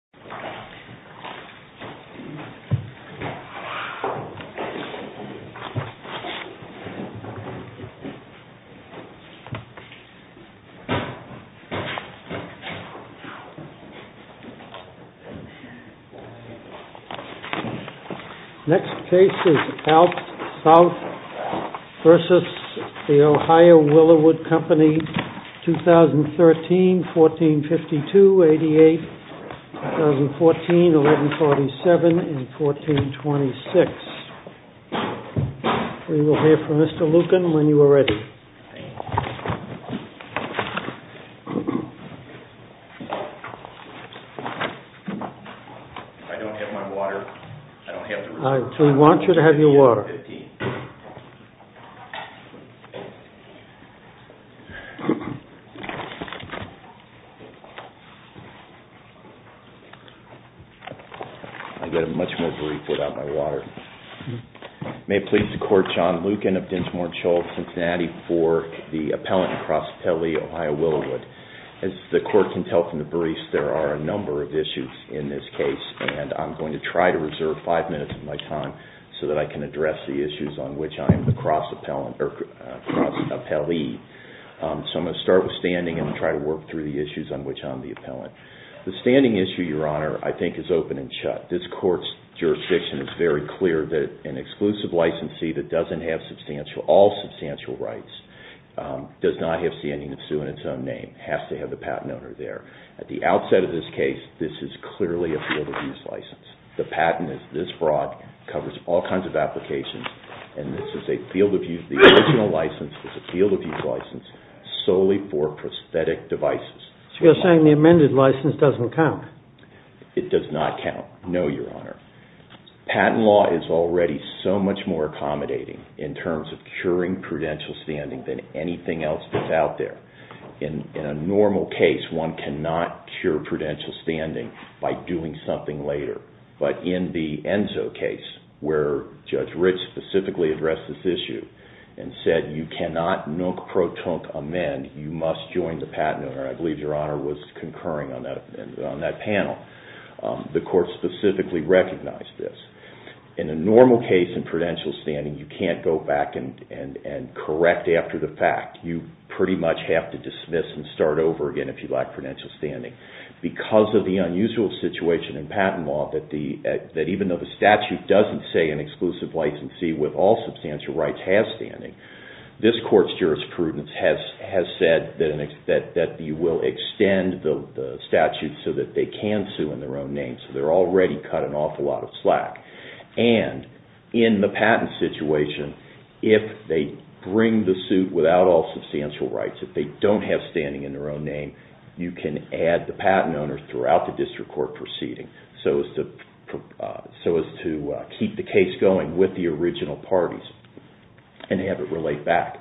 2013-1452-88, LLC. 2014-1147-1426, we will hear from Mr. Lucan when you are ready. I don't have my water. I don't have to. We want you to have your water. I've got a much more brief without my water. May it please the court, John Lucan of Dinchmor-Chull, Cincinnati for the Appellant and Cross Appellee, Ohio Willowood. As the court can tell from the briefs, there are a number of issues in this case, and I'm going to try to reserve five minutes of my time so that I can address the issues on which I am the cross appellee, so I'm going to start with standing and try to work through the issues on which I'm the appellant. The standing issue, Your Honor, I think is open and shut. This court's jurisdiction is very clear that an exclusive licensee that doesn't have substantial, all substantial rights, does not have standing to sue in its own name, has to have the patent owner there. At the outset of this case, this is clearly a field abuse license. The patent is this broad, covers all kinds of applications, and this is a field abuse, the original license is a field abuse license solely for prosthetic devices. So you're saying the amended license doesn't count? It does not count. No, Your Honor. Patent law is already so much more accommodating in terms of curing prudential standing than anything else that's out there. In a normal case, one cannot cure prudential standing by doing something later, but in the Enzo case, where Judge Ritz specifically addressed this issue and said, you cannot non-proton amend. You must join the patent owner. I believe Your Honor was concurring on that panel. The court specifically recognized this. In a normal case in prudential standing, you can't go back and correct after the fact, you pretty much have to dismiss and start over again if you lack prudential standing. Because of the unusual situation in patent law that even though the statute doesn't say an exclusive licensee with all substantial rights has standing, this will extend the statute so that they can sue in their own name. So they're already cutting off a lot of slack. And in the patent situation, if they bring the suit without all substantial rights, if they don't have standing in their own name, you can add the patent owner throughout the district court proceeding so as to keep the case going with the original parties and have it relate back.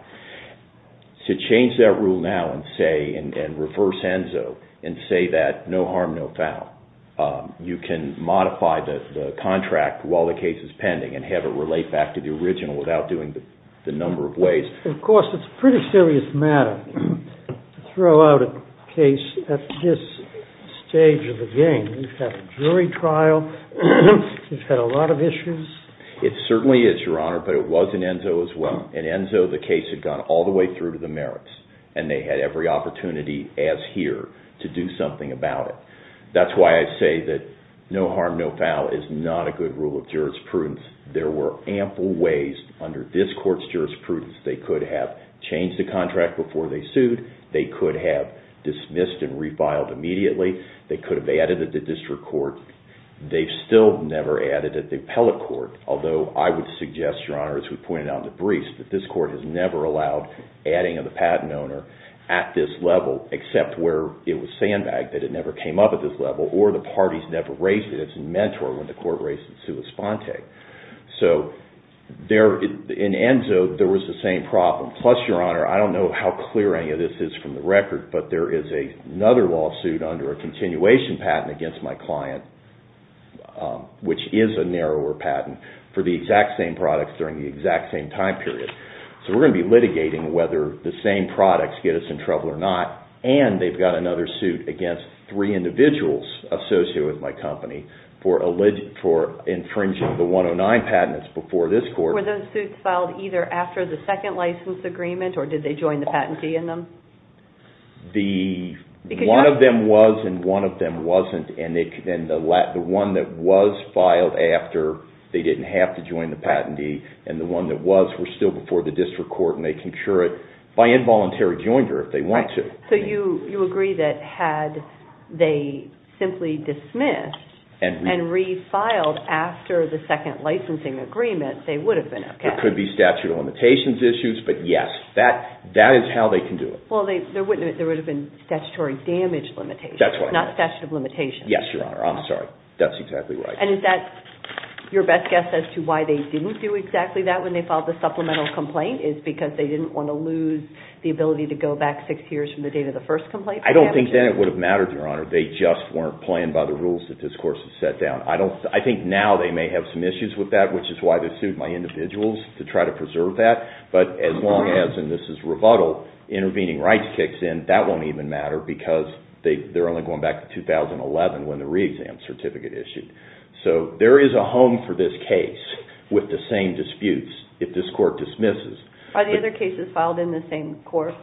To change that rule now and say, and reverse ENZO and say that no harm, no foul, you can modify the contract while the case is pending and have it relate back to the original without doing the number of ways. Of course, it's a pretty serious matter to throw out a case at this stage of the game. We've had a jury trial, we've had a lot of issues. It certainly is, Your Honor, but it was in ENZO as well. In ENZO, the case had gone all the way through to the merits and they had every opportunity as here to do something about it. That's why I say that no harm, no foul is not a good rule of jurisprudence. There were ample ways under this court's jurisprudence they could have changed the contract before they sued. They could have dismissed and refiled immediately. They could have added it to district court. They've still never added it to appellate court, although I would suggest, Your Honor, that this court has never allowed adding of the patent owner at this level except where it was sandbagged, that it never came up at this level, or the parties never raised it as a mentor when the court raised it sui sponte. In ENZO, there was the same problem. Plus, Your Honor, I don't know how clear any of this is from the record, but there is another lawsuit under a continuation patent against my client, which is a narrower patent for the exact same products during the exact same time period, so we're going to be litigating whether the same products get us in trouble or not, and they've got another suit against three individuals associated with my company for infringing the 109 patents before this court. Were those suits filed either after the second license agreement, or did they join the patentee in them? One of them was, and one of them wasn't, and the one that was filed after they were still before the district court, and they can cure it by involuntary joinder if they want to. So you agree that had they simply dismissed and refiled after the second licensing agreement, they would have been okay? There could be statute of limitations issues, but yes, that is how they can do it. Well, there would have been statutory damage limitations, not statute of limitations. Yes, Your Honor. I'm sorry. That's exactly right. And is that your best guess as to why they didn't do exactly that when they filed the supplemental complaint, is because they didn't want to lose the ability to go back six years from the date of the first complaint? I don't think that it would have mattered, Your Honor. They just weren't playing by the rules that this court has set down. I think now they may have some issues with that, which is why they sued my individuals to try to preserve that. But as long as, and this is rebuttal, intervening rights kicks in, that won't even matter because they're only going back to 2011 when the re-exam certificate issued. So there is a home for this case with the same disputes if this court dismisses. Are the other cases filed in the same court?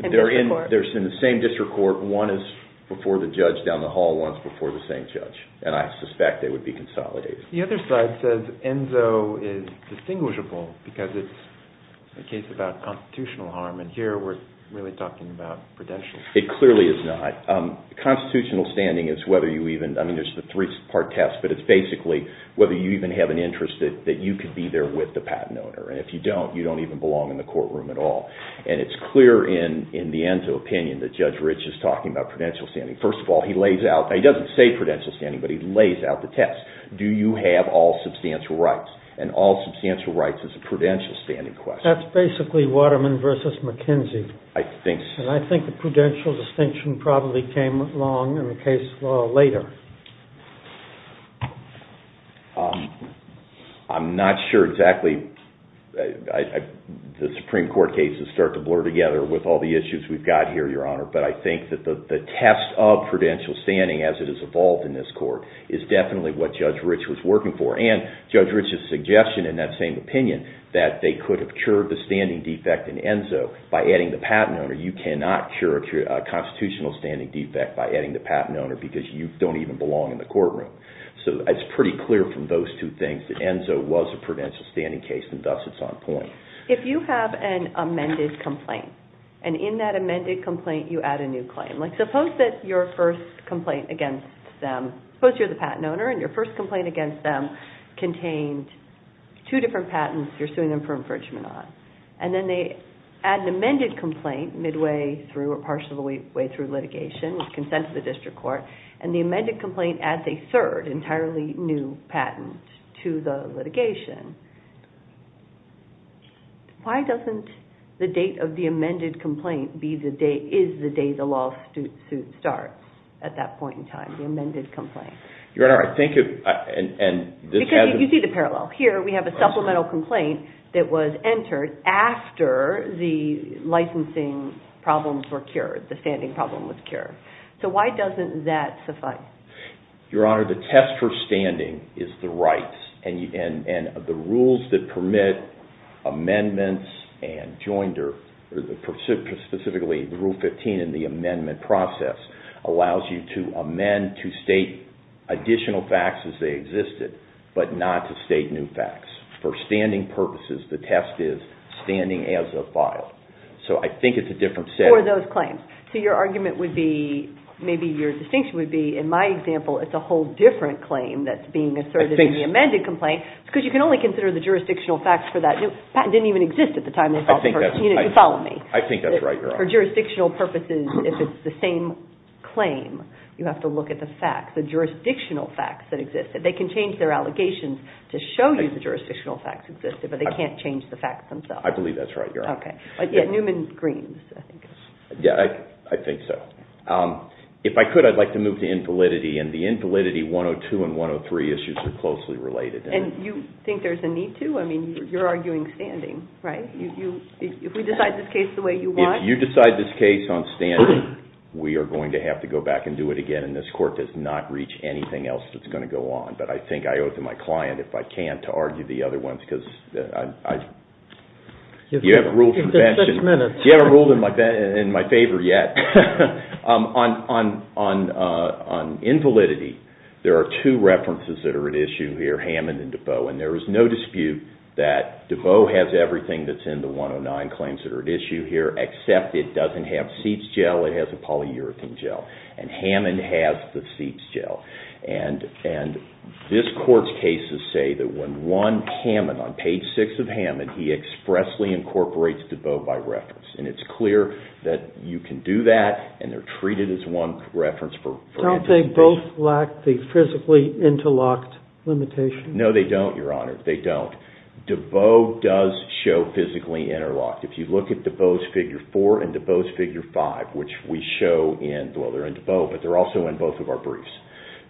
They're in the same district court. One is before the judge down the hall, one's before the same judge. And I suspect they would be consolidated. The other side says ENZO is distinguishable because it's a case about constitutional harm. And here we're really talking about prudential. It clearly is not. Constitutional standing is whether you even, I mean, there's the three-part test, but it's basically whether you even have an interest that you could be there with the patent owner. And if you don't, you don't even belong in the courtroom at all. And it's clear in the ENZO opinion that Judge Rich is talking about prudential standing. First of all, he lays out, he doesn't say prudential standing, but he lays out the test. Do you have all substantial rights? And all substantial rights is a prudential standing question. That's basically Waterman versus McKenzie. I think so. And probably came along in the case law later. I'm not sure exactly, the Supreme Court cases start to blur together with all the issues we've got here, Your Honor. But I think that the test of prudential standing as it has evolved in this court is definitely what Judge Rich was working for. And Judge Rich's suggestion in that same opinion, that they could have cured the standing defect in ENZO by adding the patent owner. You cannot cure a constitutional standing defect by adding the patent owner because you don't even belong in the courtroom. So it's pretty clear from those two things that ENZO was a prudential standing case and thus it's on point. If you have an amended complaint and in that amended complaint, you add a new claim, like suppose that your first complaint against them, suppose you're the patent owner and your first complaint against them contained two different patents you're suing them for infringement on. And then they add an amended complaint midway through or partially way through litigation with consent of the district court. And the amended complaint adds a third entirely new patent to the litigation. Why doesn't the date of the amended complaint be the day, is the day the law suit starts at that point in time, the amended complaint? Your Honor, I think if, and this has- You see the parallel. Here we have a supplemental complaint that was entered after the licensing problems were cured, the standing problem was cured. So why doesn't that suffice? Your Honor, the test for standing is the rights and the rules that permit amendments and joinder, specifically rule 15 in the amendment process, allows you to amend, to state additional facts as they existed, but not to state new facts. For standing purposes, the test is standing as a file. So I think it's a different setting. For those claims. So your argument would be, maybe your distinction would be, in my example, it's a whole different claim that's being asserted in the amended complaint because you can only consider the jurisdictional facts for that. The patent didn't even exist at the time. You follow me. I think that's right, Your Honor. For jurisdictional purposes, if it's the same claim, you have to look at the facts, the jurisdictional facts that existed. They can change their allegations to show you the jurisdictional facts existed, but they can't change the facts themselves. I believe that's right, Your Honor. Okay. But yeah, Newman-Greens, I think. Yeah, I think so. If I could, I'd like to move to infalidity and the infalidity 102 and 103 issues are closely related. And you think there's a need to? I mean, you're arguing standing, right? If we decide this case the way you want- If you decide this case on standing, we are going to have to go back and do it again. And this court does not reach anything else that's going to go on. But I think I owe it to my client, if I can, to argue the other ones because I- You haven't ruled in my favor yet. On invalidity, there are two references that are at issue here, Hammond and Debeau. And there is no dispute that Debeau has everything that's in the 109 claims that are at issue here, except it doesn't have Seep's gel, it has a polyurethane gel. And Hammond has the Seep's gel. And this court's cases say that when one Hammond, on page six of Hammond, he expressly incorporates Debeau by reference. And it's clear that you can do that and they're treated as one reference for- Don't they both lack the physically interlocked limitation? No, they don't, Your Honor. They don't. Debeau does show physically interlocked. If you look at Debeau's figure four and Debeau's figure five, which we show in- Well, they're in Debeau, but they're also in both of our briefs.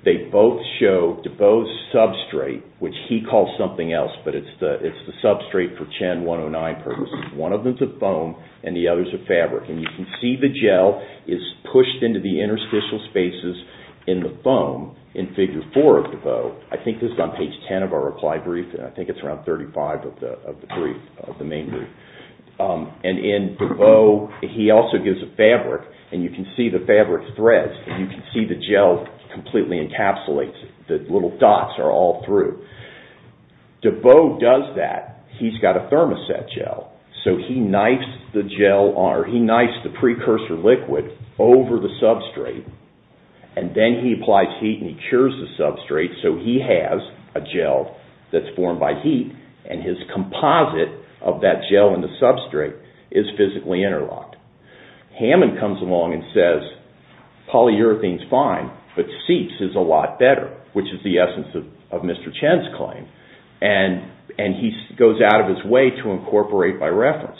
They both show Debeau's substrate, which he calls something else, but it's the substrate for Chen 109 purposes. One of them's a foam and the other's a fabric. And you can see the gel is pushed into the interstitial spaces in the foam in figure four of Debeau. I think this is on page 10 of our reply brief, and I think it's around 35 of the brief, of the main brief. And in Debeau, he also gives a fabric, and you can see the fabric threads, and you can see the gel completely encapsulates it. The little dots are all through. Debeau does that. He's got a thermoset gel, so he knifes the gel or he knifes the precursor liquid over the substrate, and then he applies heat and he cures the substrate, so he has a gel that's formed by heat. And his composite of that gel and the substrate is physically interlocked. Hammond comes along and says, polyurethane's fine, but CEATS is a lot better, which is the essence of Mr. Chen's claim. And he goes out of his way to incorporate by reference.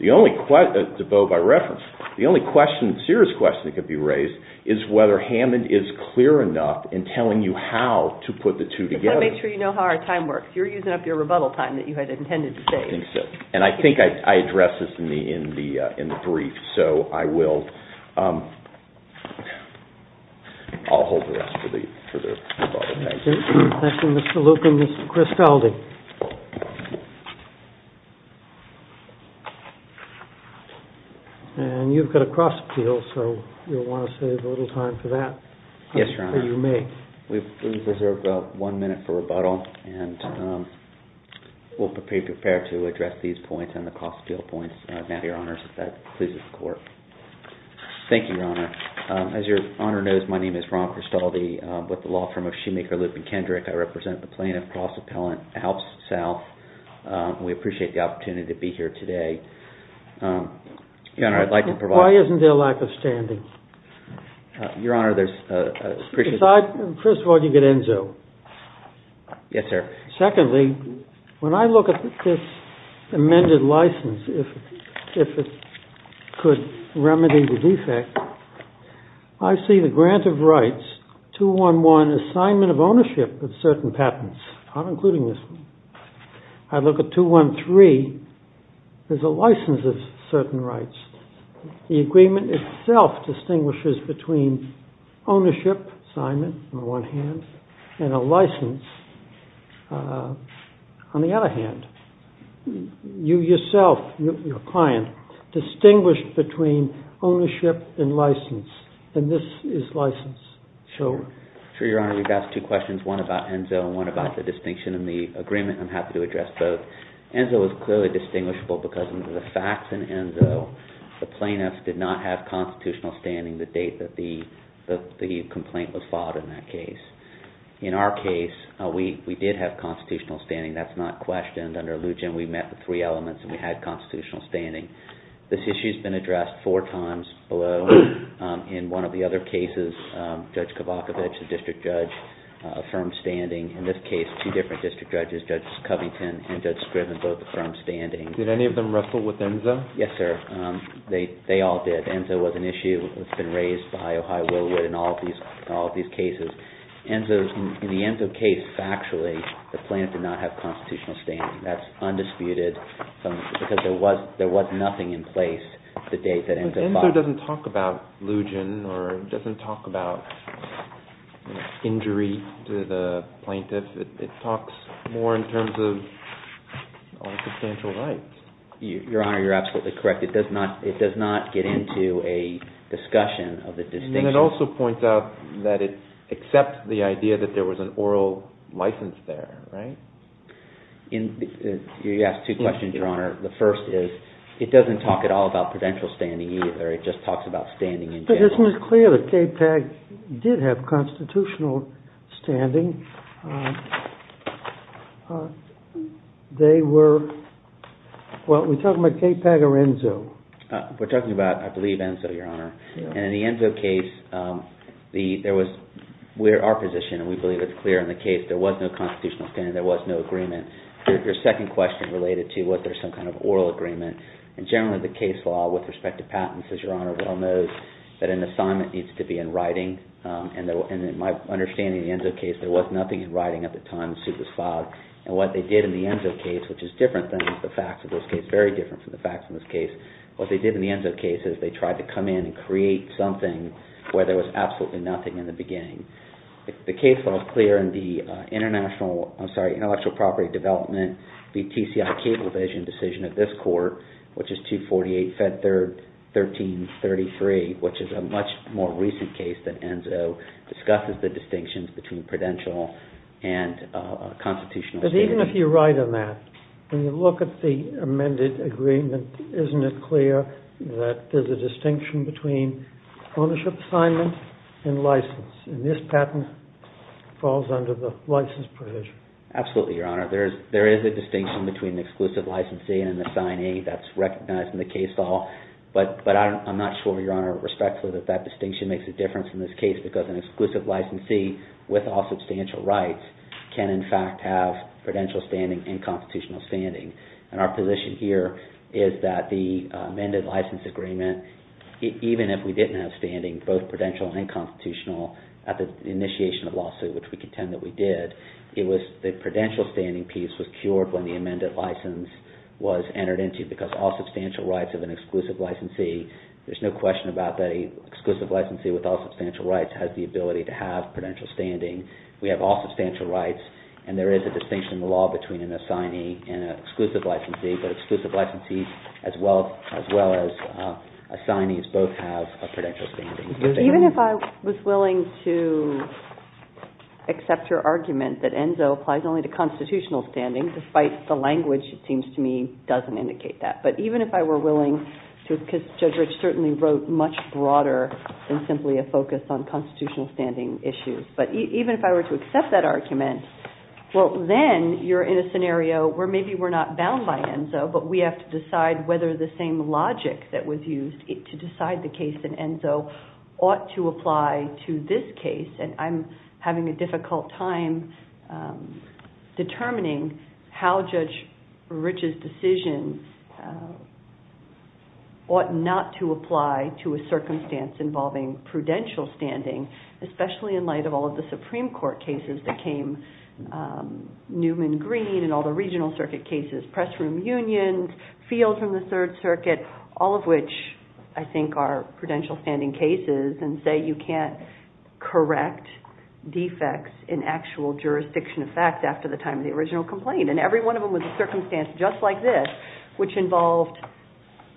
Debeau, by reference, the only serious question that could be raised is whether Hammond is clear enough in telling you how to put the two together. I just want to make sure you know how our time works. You're using up your rebuttal time that you had intended to save. I think so, and I think I addressed this to me in the brief, so I will. I'll hold the rest for the rebuttal time. Thank you, Mr. Luke and Mr. Christelde. And you've got a cross-peel, so you'll want to save a little time for that. Yes, Your Honor. Or you may. We reserve one minute for rebuttal, and we'll be prepared to address these points and the cross-peel points now, Your Honors, if that pleases the Court. Thank you, Your Honor. As Your Honor knows, my name is Ron Christelde with the law firm of Shoemaker, Luke, and Kendrick. I represent the plaintiff, Cross Appellant, Alps South. We appreciate the opportunity to be here today. Your Honor, I'd like to provide- Why isn't there lack of standing? Your Honor, there's a- First of all, you get ENZO. Yes, sir. Secondly, when I look at this amended license, if it could remedy the defect, I see the grant of rights, 211, assignment of ownership of certain patents. I'm including this one. I look at 213, there's a license of certain rights. The agreement itself distinguishes between ownership, assignment on one hand, and a license on the other hand. You yourself, your client, distinguished between ownership and license, and this is license. Sure, Your Honor. You've asked two questions, one about ENZO and one about the distinction in the agreement. I'm happy to address both. ENZO is clearly distinguishable because of the facts in ENZO. The plaintiff did not have constitutional standing the date that the complaint was filed in that case. In our case, we did have constitutional standing. That's not questioned. Under Lujan, we met the three elements and we had constitutional standing. This issue's been addressed four times below in one of the other cases. Judge Kovacovic, the district judge, affirmed standing. In this case, two different district judges, Judge Covington and Judge Scriv in both affirmed standing. Did any of them wrestle with ENZO? Yes, sir. They all did. ENZO was an issue that's been raised by Ohio Willowood in all of these cases. In the ENZO case, factually, the plaintiff did not have constitutional standing. That's undisputed because there was nothing in place the date that ENZO filed. But ENZO doesn't talk about Lujan or it doesn't talk about injury to the plaintiff. It talks more in terms of all substantial rights. Your Honor, you're absolutely correct. It does not get into a discussion of the distinction. And it also points out that it accepts the idea that there was an oral license there, right? You asked two questions, Your Honor. The first is it doesn't talk at all about prudential standing either. It just talks about standing in general. But isn't it clear that KPAG did have constitutional standing? They were – well, are we talking about KPAG or ENZO? We're talking about, I believe, ENZO, Your Honor. And in the ENZO case, there was – our position, and we believe it's clear in the case, there was no constitutional standing. There was no agreement. Your second question related to was there some kind of oral agreement. And generally, the case law with respect to patents, as Your Honor well knows, that an assignment needs to be in writing. There was nothing in writing at the time. The suit was filed. And what they did in the ENZO case, which is different than the facts of this case, very different from the facts of this case, what they did in the ENZO case is they tried to come in and create something where there was absolutely nothing in the beginning. The case law is clear in the International – I'm sorry, Intellectual Property Development v. TCI Cablevision decision of this Court, which is 248 Fed 1333, which is a much more recent case that ENZO discusses the distinctions between prudential and constitutional standing. But even if you're right on that, when you look at the amended agreement, isn't it clear that there's a distinction between ownership assignment and license? And this patent falls under the license provision. Absolutely, Your Honor. There is a distinction between exclusive licensee and an assignee. That's recognized in the case law. But I'm not sure, Your Honor, respectfully, that that distinction makes a difference in this case because an exclusive licensee with all substantial rights can, in fact, have prudential standing and constitutional standing. And our position here is that the amended license agreement, even if we didn't have standing, both prudential and constitutional, at the initiation of the lawsuit, which we contend that we did, the prudential standing piece was cured when the amended license was entered into because all substantial rights of an exclusive licensee, there's no question about that an exclusive licensee with all substantial rights has the ability to have prudential standing. We have all substantial rights. And there is a distinction in the law between an assignee and an exclusive licensee. But exclusive licensees as well as assignees both have a prudential standing. Even if I was willing to accept your argument that ENZO applies only to constitutional standing, despite the language, it seems to me, doesn't indicate that. But even if I were willing to, because Judge Rich certainly wrote much broader than simply a focus on constitutional standing issues. But even if I were to accept that argument, well, then you're in a scenario where maybe we're not bound by ENZO, but we have to decide whether the same logic that was used to decide the case in ENZO ought to apply to this case. And I'm having a difficult time determining how Judge Rich's decision ought not to apply to a circumstance involving prudential standing, especially in light of all of the Supreme Court cases that came, Newman Green and all the regional circuit cases, Press Room Unions, Fields from the Third Circuit, all of which I think are prudential standing cases, and say you can't correct defects in actual jurisdiction of facts after the time of the original complaint. And every one of them was a circumstance just like this, which involved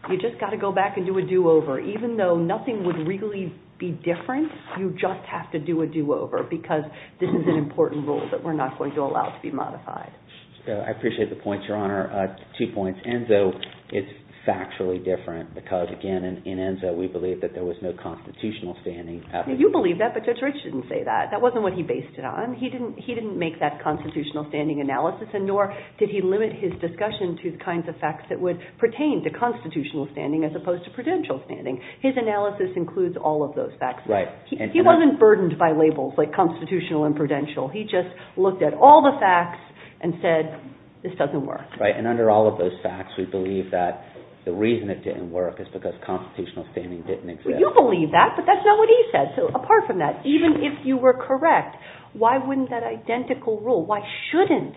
you just got to go back and do a do-over. Even though nothing would really be different, you just have to do a do-over, because this is an important rule that we're not going to allow to be modified. I appreciate the points, Your Honor. Two points. ENZO is factually different, because again, in ENZO, we believe that there was no constitutional standing. You believe that, but Judge Rich didn't say that. That wasn't what he based it on. He didn't make that constitutional standing analysis, and nor did he limit his discussion to the kinds of facts that would pertain to constitutional standing as opposed to prudential standing. His analysis includes all of those facts. He wasn't burdened by labels like constitutional and prudential. He just looked at all the facts and said this doesn't work. And under all of those facts, we believe that the reason it didn't work is because constitutional standing didn't exist. You believe that, but that's not what he said. So apart from that, even if you were correct, why wouldn't that identical rule, why shouldn't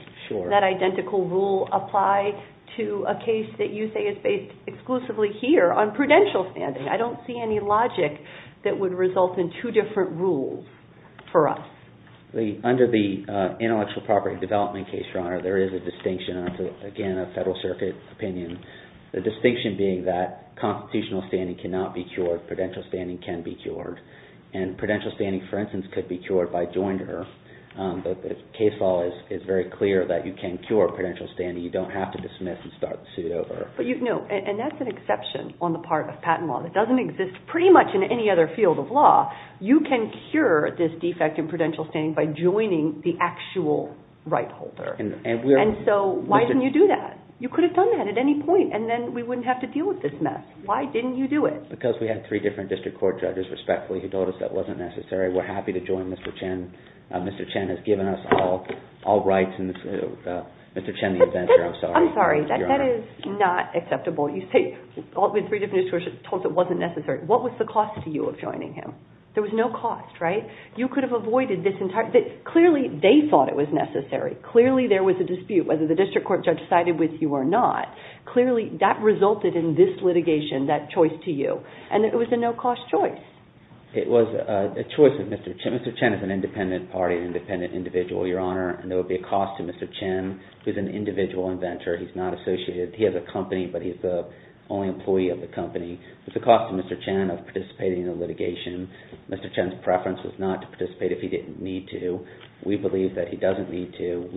that identical rule apply to a case that you say is based exclusively here on prudential standing? I don't see any logic that would result in two different rules for us. Under the intellectual property development case, Your Honor, there is a distinction, again, a Federal Circuit opinion. The distinction being that constitutional standing cannot be cured. Prudential standing can be cured. And prudential standing, for instance, could be cured by joinder. The case law is very clear that you can cure prudential standing. You don't have to dismiss and start the suit over. No, and that's an exception on the part of patent law. It doesn't exist pretty much in any other field of law. You can cure this defect in prudential standing by joining the actual right holder. And so why didn't you do that? You could have done that at any point, and then we wouldn't have to deal with this mess. Why didn't you do it? Because we had three different district court judges respectfully who told us that wasn't necessary. We're happy to join Mr. Chen. Mr. Chen has given us all rights in this. Mr. Chen, the inventor, I'm sorry. I'm sorry. That is not acceptable. You say three different judges told us it wasn't necessary. What was the cost to you of joining him? There was no cost, right? You could have avoided this entire thing. Clearly they thought it was necessary. Clearly there was a dispute whether the district court judge sided with you or not. Clearly that resulted in this litigation, that choice to you. And it was a no-cost choice. It was a choice of Mr. Chen. Mr. Chen is an independent party, an independent individual, Your Honor, and there would be a cost to Mr. Chen. He's an individual inventor. He's not associated. He has a company, but he's the only employee of the company. It was a cost to Mr. Chen of participating in the litigation. Mr. Chen's preference was not to participate if he didn't need to. We believe that he doesn't need to.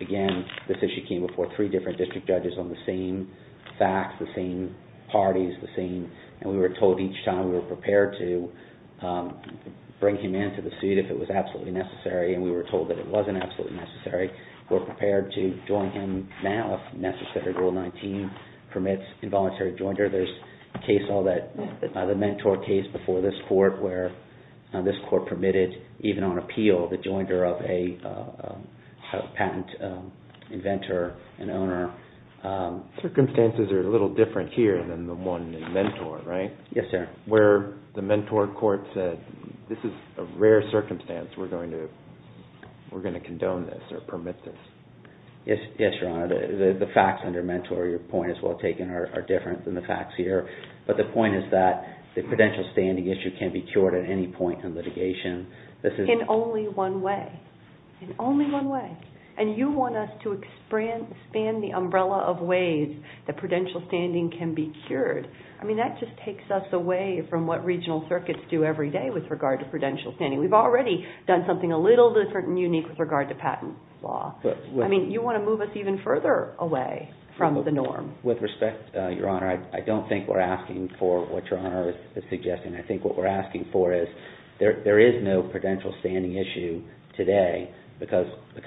Again, this issue came before three different district judges on the same facts, the same parties, and we were told each time we were prepared to bring him into the suit if it was absolutely necessary, and we were told that it wasn't absolutely necessary. We're prepared to join him now if necessary. Rule 19 permits involuntary joinder. There's a case, the Mentor case before this court, where this court permitted, even on appeal, the joinder of a patent inventor and owner. Circumstances are a little different here than the one in Mentor, right? Yes, sir. Where the Mentor court said this is a rare circumstance. We're going to condone this or permit this. Yes, Your Honor. The facts under Mentor, your point is well taken, are different than the facts here, but the point is that the prudential standing issue can be cured at any point in litigation. In only one way. In only one way. And you want us to expand the umbrella of ways that prudential standing can be cured. I mean, that just takes us away from what regional circuits do every day with regard to prudential standing. We've already done something a little different and unique with regard to patent law. I mean, you want to move us even further away from the norm. With respect, Your Honor, I don't think we're asking for what Your Honor is suggesting. I think what we're asking for is there is no prudential standing issue today because the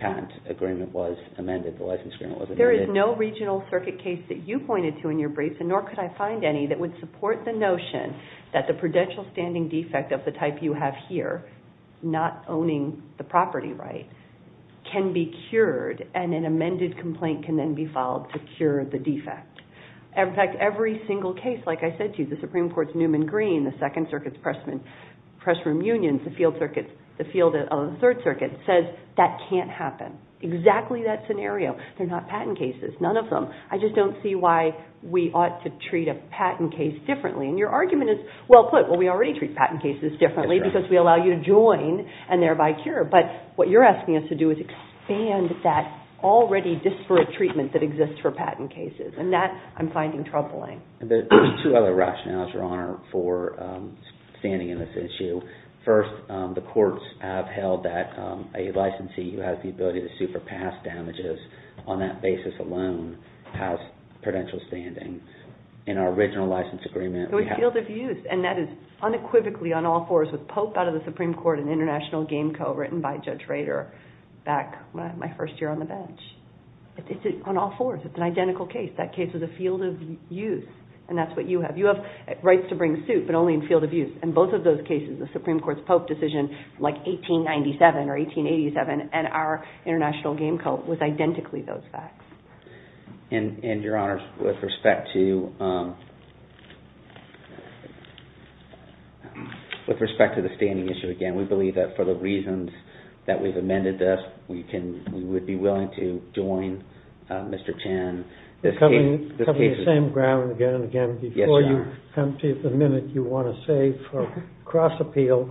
patent agreement was amended, the license agreement was amended. There is no regional circuit case that you pointed to in your briefs, and nor could I find any, that would support the notion that the prudential standing defect of the type you have here, not owning the property right, can be cured and an amended complaint can then be filed to cure the defect. In fact, every single case, like I said to you, the Supreme Court's Newman Green, the Second Circuit's Pressroom Unions, the field of the Third Circuit, says that can't happen. Exactly that scenario. They're not patent cases. None of them. I just don't see why we ought to treat a patent case differently. And your argument is, well, put, we already treat patent cases differently because we allow you to join and thereby cure. But what you're asking us to do is expand that already disparate treatment that exists for patent cases, and that I'm finding troubling. There are two other rationales, Your Honor, for standing in this issue. First, the courts have held that a licensee who has the ability to sue for past damages on that basis alone has prudential standing. In our original license agreement, we have... So it's field of use, and that is unequivocally on all fours, with Pope out of the Supreme Court and International Game Co. written by Judge Rader back my first year on the bench. It's on all fours. It's an identical case. That case was a field of use, and that's what you have. You have rights to bring suit, but only in field of use. In both of those cases, the Supreme Court's Pope decision, like 1897 or 1887, and our International Game Co. was identically those facts. And, Your Honor, with respect to the standing issue, again, we believe that for the reasons that we've amended this, we would be willing to join Mr. Chan. Coming to the same ground again and again, before you come to the minute you want to say for cross-appeal,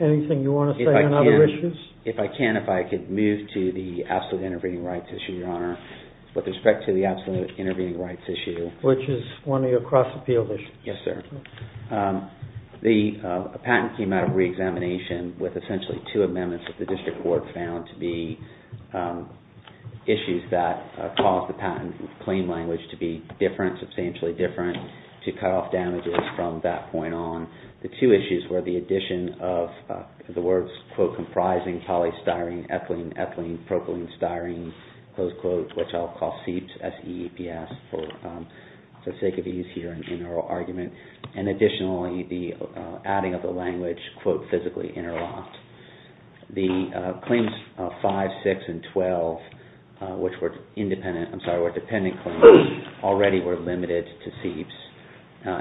anything you want to say on other issues? If I can, if I could move to the absolute intervening rights issue, Your Honor, with respect to the absolute intervening rights issue. Which is one of your cross-appeal issues. Yes, sir. The patent came out of re-examination with essentially two amendments that the district court found to be issues that caused the patent, in plain language, to be different, substantially different, to cut off damages from that point on. The two issues were the addition of the words, quote, comprising polystyrene, ethylene, ethylene, propylene, styrene, close quote, which I'll call CEEPS, S-E-E-P-S, for the sake of ease here in oral argument. And additionally, the adding of the language, quote, physically interlocked. The claims 5, 6, and 12, which were independent, I'm sorry, were dependent claims, already were limited to CEEPS.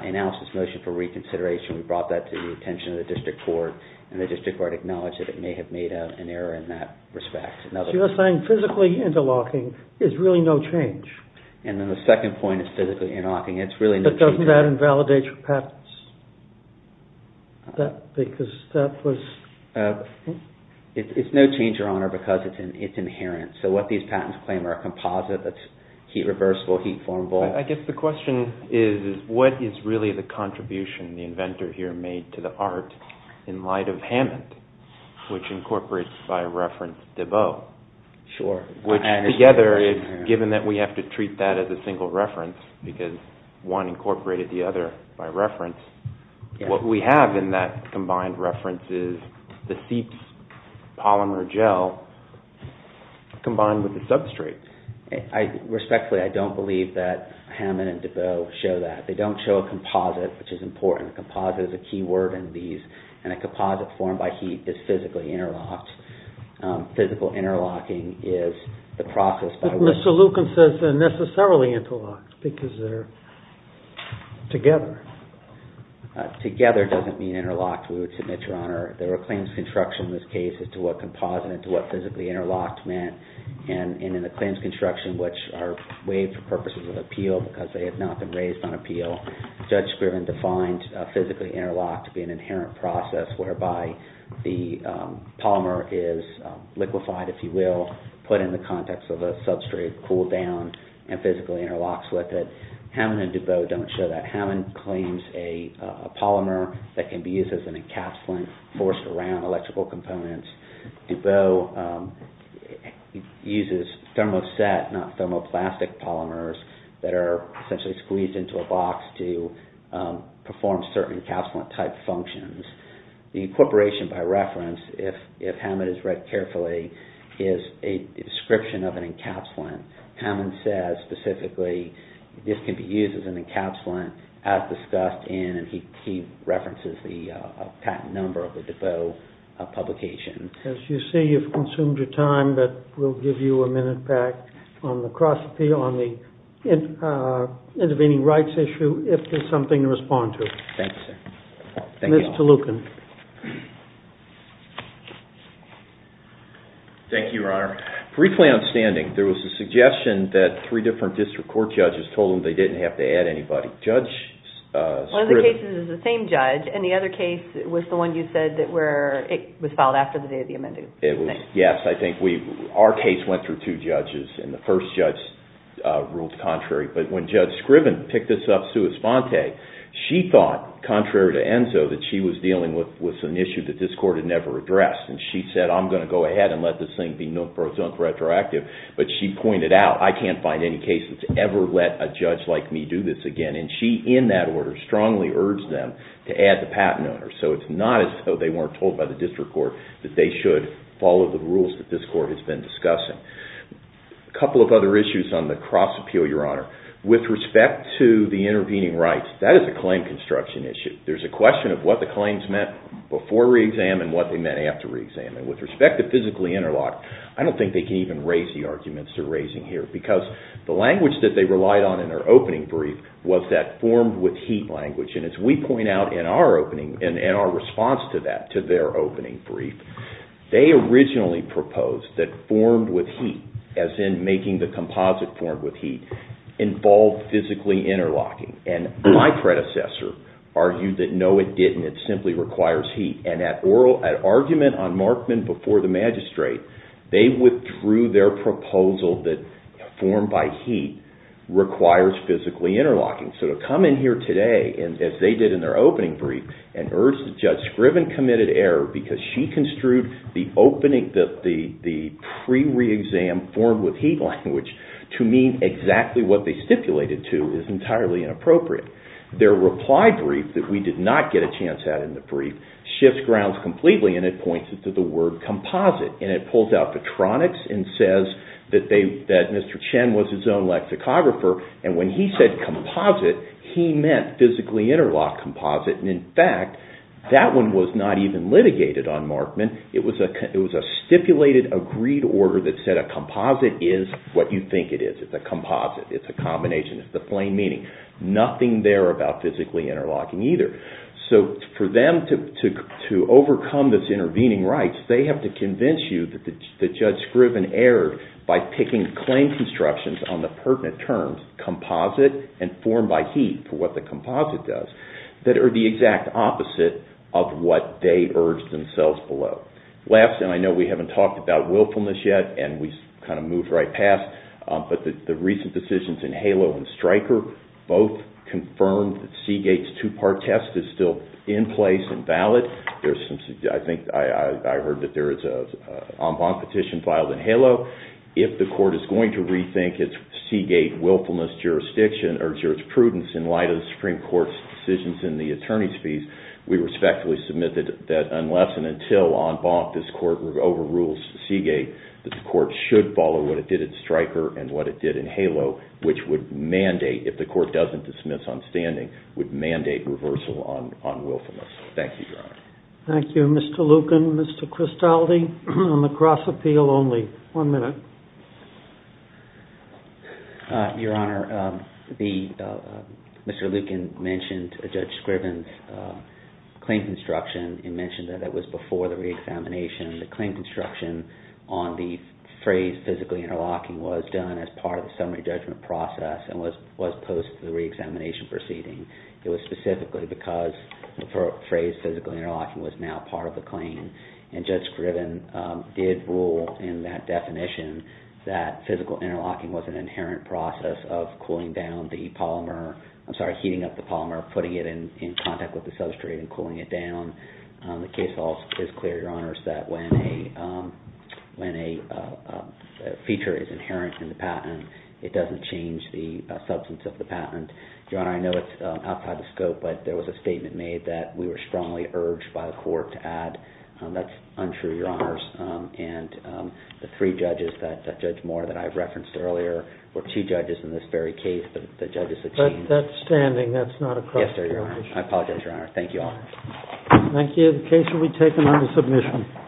We announced this motion for reconsideration. We brought that to the attention of the district court, and the district court acknowledged that it may have made an error in that respect. So you're saying physically interlocking is really no change? And then the second point is physically interlocking. It's really no change. But doesn't that invalidate your patents? Because that was... It's no change, Your Honor, because it's inherent. So what these patents claim are a composite that's heat reversible, heat formable. I guess the question is what is really the contribution the inventor here made to the art in light of Hammond, which incorporates, by reference, Debeau? Sure. Which together, given that we have to treat that as a single reference, because one incorporated the other by reference, what we have in that combined reference is the CEEPS polymer gel combined with the substrate. Respectfully, I don't believe that Hammond and Debeau show that. They don't show a composite, which is important. Composite is a key word in these, and a composite formed by heat is physically interlocked. Physical interlocking is the process by which... But Mr. Lucan says they're necessarily interlocked because they're together. Together doesn't mean interlocked, we would submit, Your Honor. There were claims of construction in this case as to what composite and to what physically interlocked meant, and in the claims of construction, which are waived for purposes of appeal because they have not been raised on appeal, Judge Scriven defined physically interlocked to be an inherent process whereby the polymer is liquefied, if you will, put in the context of a substrate, cooled down, and physically interlocks with it. Hammond and Debeau don't show that. Hammond claims a polymer that can be used as an encapsulant forced around electrical components. Debeau uses thermoset, not thermoplastic polymers that are essentially squeezed into a box to perform certain encapsulant-type functions. The incorporation by reference, if Hammond has read carefully, is a description of an encapsulant. Hammond says, specifically, this can be used as an encapsulant as discussed in... As you see, you've consumed your time, but we'll give you a minute back on the cross-appeal, on the intervening rights issue, if there's something to respond to. Thank you, sir. Ms. Tolucan. Thank you, Your Honor. Briefly on standing, there was a suggestion that three different district court judges told them they didn't have to add anybody. Judge Scriven... One of the cases is the same judge, and the other case was the one you said where it was filed after the day of the amending. Yes, I think our case went through two judges, and the first judge ruled contrary. But when Judge Scriven picked this up, Sue Esponte, she thought, contrary to Enzo, that she was dealing with an issue that this court had never addressed. And she said, I'm going to go ahead and let this thing be known for its own retroactive. But she pointed out, I can't find any case that's ever let a judge like me do this again. And she, in that order, strongly urged them to add the patent owner. So it's not as though they weren't told by the district court that they should follow the rules that this court has been discussing. A couple of other issues on the cross-appeal, Your Honor. With respect to the intervening rights, that is a claim construction issue. There's a question of what the claims meant before re-exam and what they meant after re-exam. And with respect to physically interlocked, I don't think they can even raise the arguments they're raising here, because the language that they relied on in their opening brief was that formed-with-heat language. And as we point out in our opening, in our response to that, to their opening brief, they originally proposed that formed-with-heat, as in making the composite formed-with-heat, involved physically interlocking. And my predecessor argued that, no, it didn't. It simply requires heat. And at argument on Markman before the magistrate, they withdrew their proposal that formed-by-heat requires physically interlocking. So to come in here today, as they did in their opening brief, and urge that Judge Scriven committed error because she construed the pre-re-exam formed-with-heat language to mean exactly what they stipulated to is entirely inappropriate. Their reply brief, that we did not get a chance at in the brief, shifts grounds completely and it points to the word composite. And it pulls out the tronics and says that Mr. Chen was his own lexicographer. And when he said composite, he meant physically interlock composite. And in fact, that one was not even litigated on Markman. It was a stipulated, agreed order that said a composite is what you think it is. It's a composite. It's a combination. It's the plain meaning. Nothing there about physically interlocking either. So for them to overcome this intervening right, they have to convince you that Judge Scriven erred by picking claim constructions on the pertinent terms composite and formed-by-heat for what the composite does that are the exact opposite of what they urged themselves below. Last, and I know we haven't talked about willfulness yet and we kind of moved right past, but the recent decisions in HALO and STRIKER both confirmed that Seagate's two-part test is still in place and valid. I heard that there is an en banc petition filed in HALO. If the court is going to rethink its Seagate willfulness jurisprudence in light of the Supreme Court's decisions in the attorney's fees, we respectfully submit that unless and until en banc this court overrules Seagate, that the court should follow what it did in STRIKER and what it did in HALO, which would mandate, if the court doesn't dismiss on standing, would mandate reversal on willfulness. Thank you, Your Honor. Thank you, Mr. Lucan. Mr. Cristaldi on the cross-appeal only. One minute. Your Honor, Mr. Lucan mentioned Judge Scriven's claim construction and mentioned that it was before the re-examination. The claim construction on the phrase physically interlocking was done as part of the summary judgment process and was posted to the re-examination proceeding. It was specifically because the phrase physically interlocking was now part of the claim, and Judge Scriven did rule in that definition that physical interlocking was an inherent process of cooling down the polymer, I'm sorry, heating up the polymer, putting it in contact with the substrate and cooling it down. The case also is clear, Your Honors, that when a feature is inherent in the patent, it doesn't change the substance of the patent. Your Honor, I know it's outside the scope, but there was a statement made that we were strongly urged by the court to add. That's untrue, Your Honors, and the three judges, Judge Moore that I referenced earlier, were two judges in this very case, but the judges have changed. That's standing, that's not a cross-appeal issue. I apologize, Your Honor. Thank you all. Thank you. The case will be taken under submission.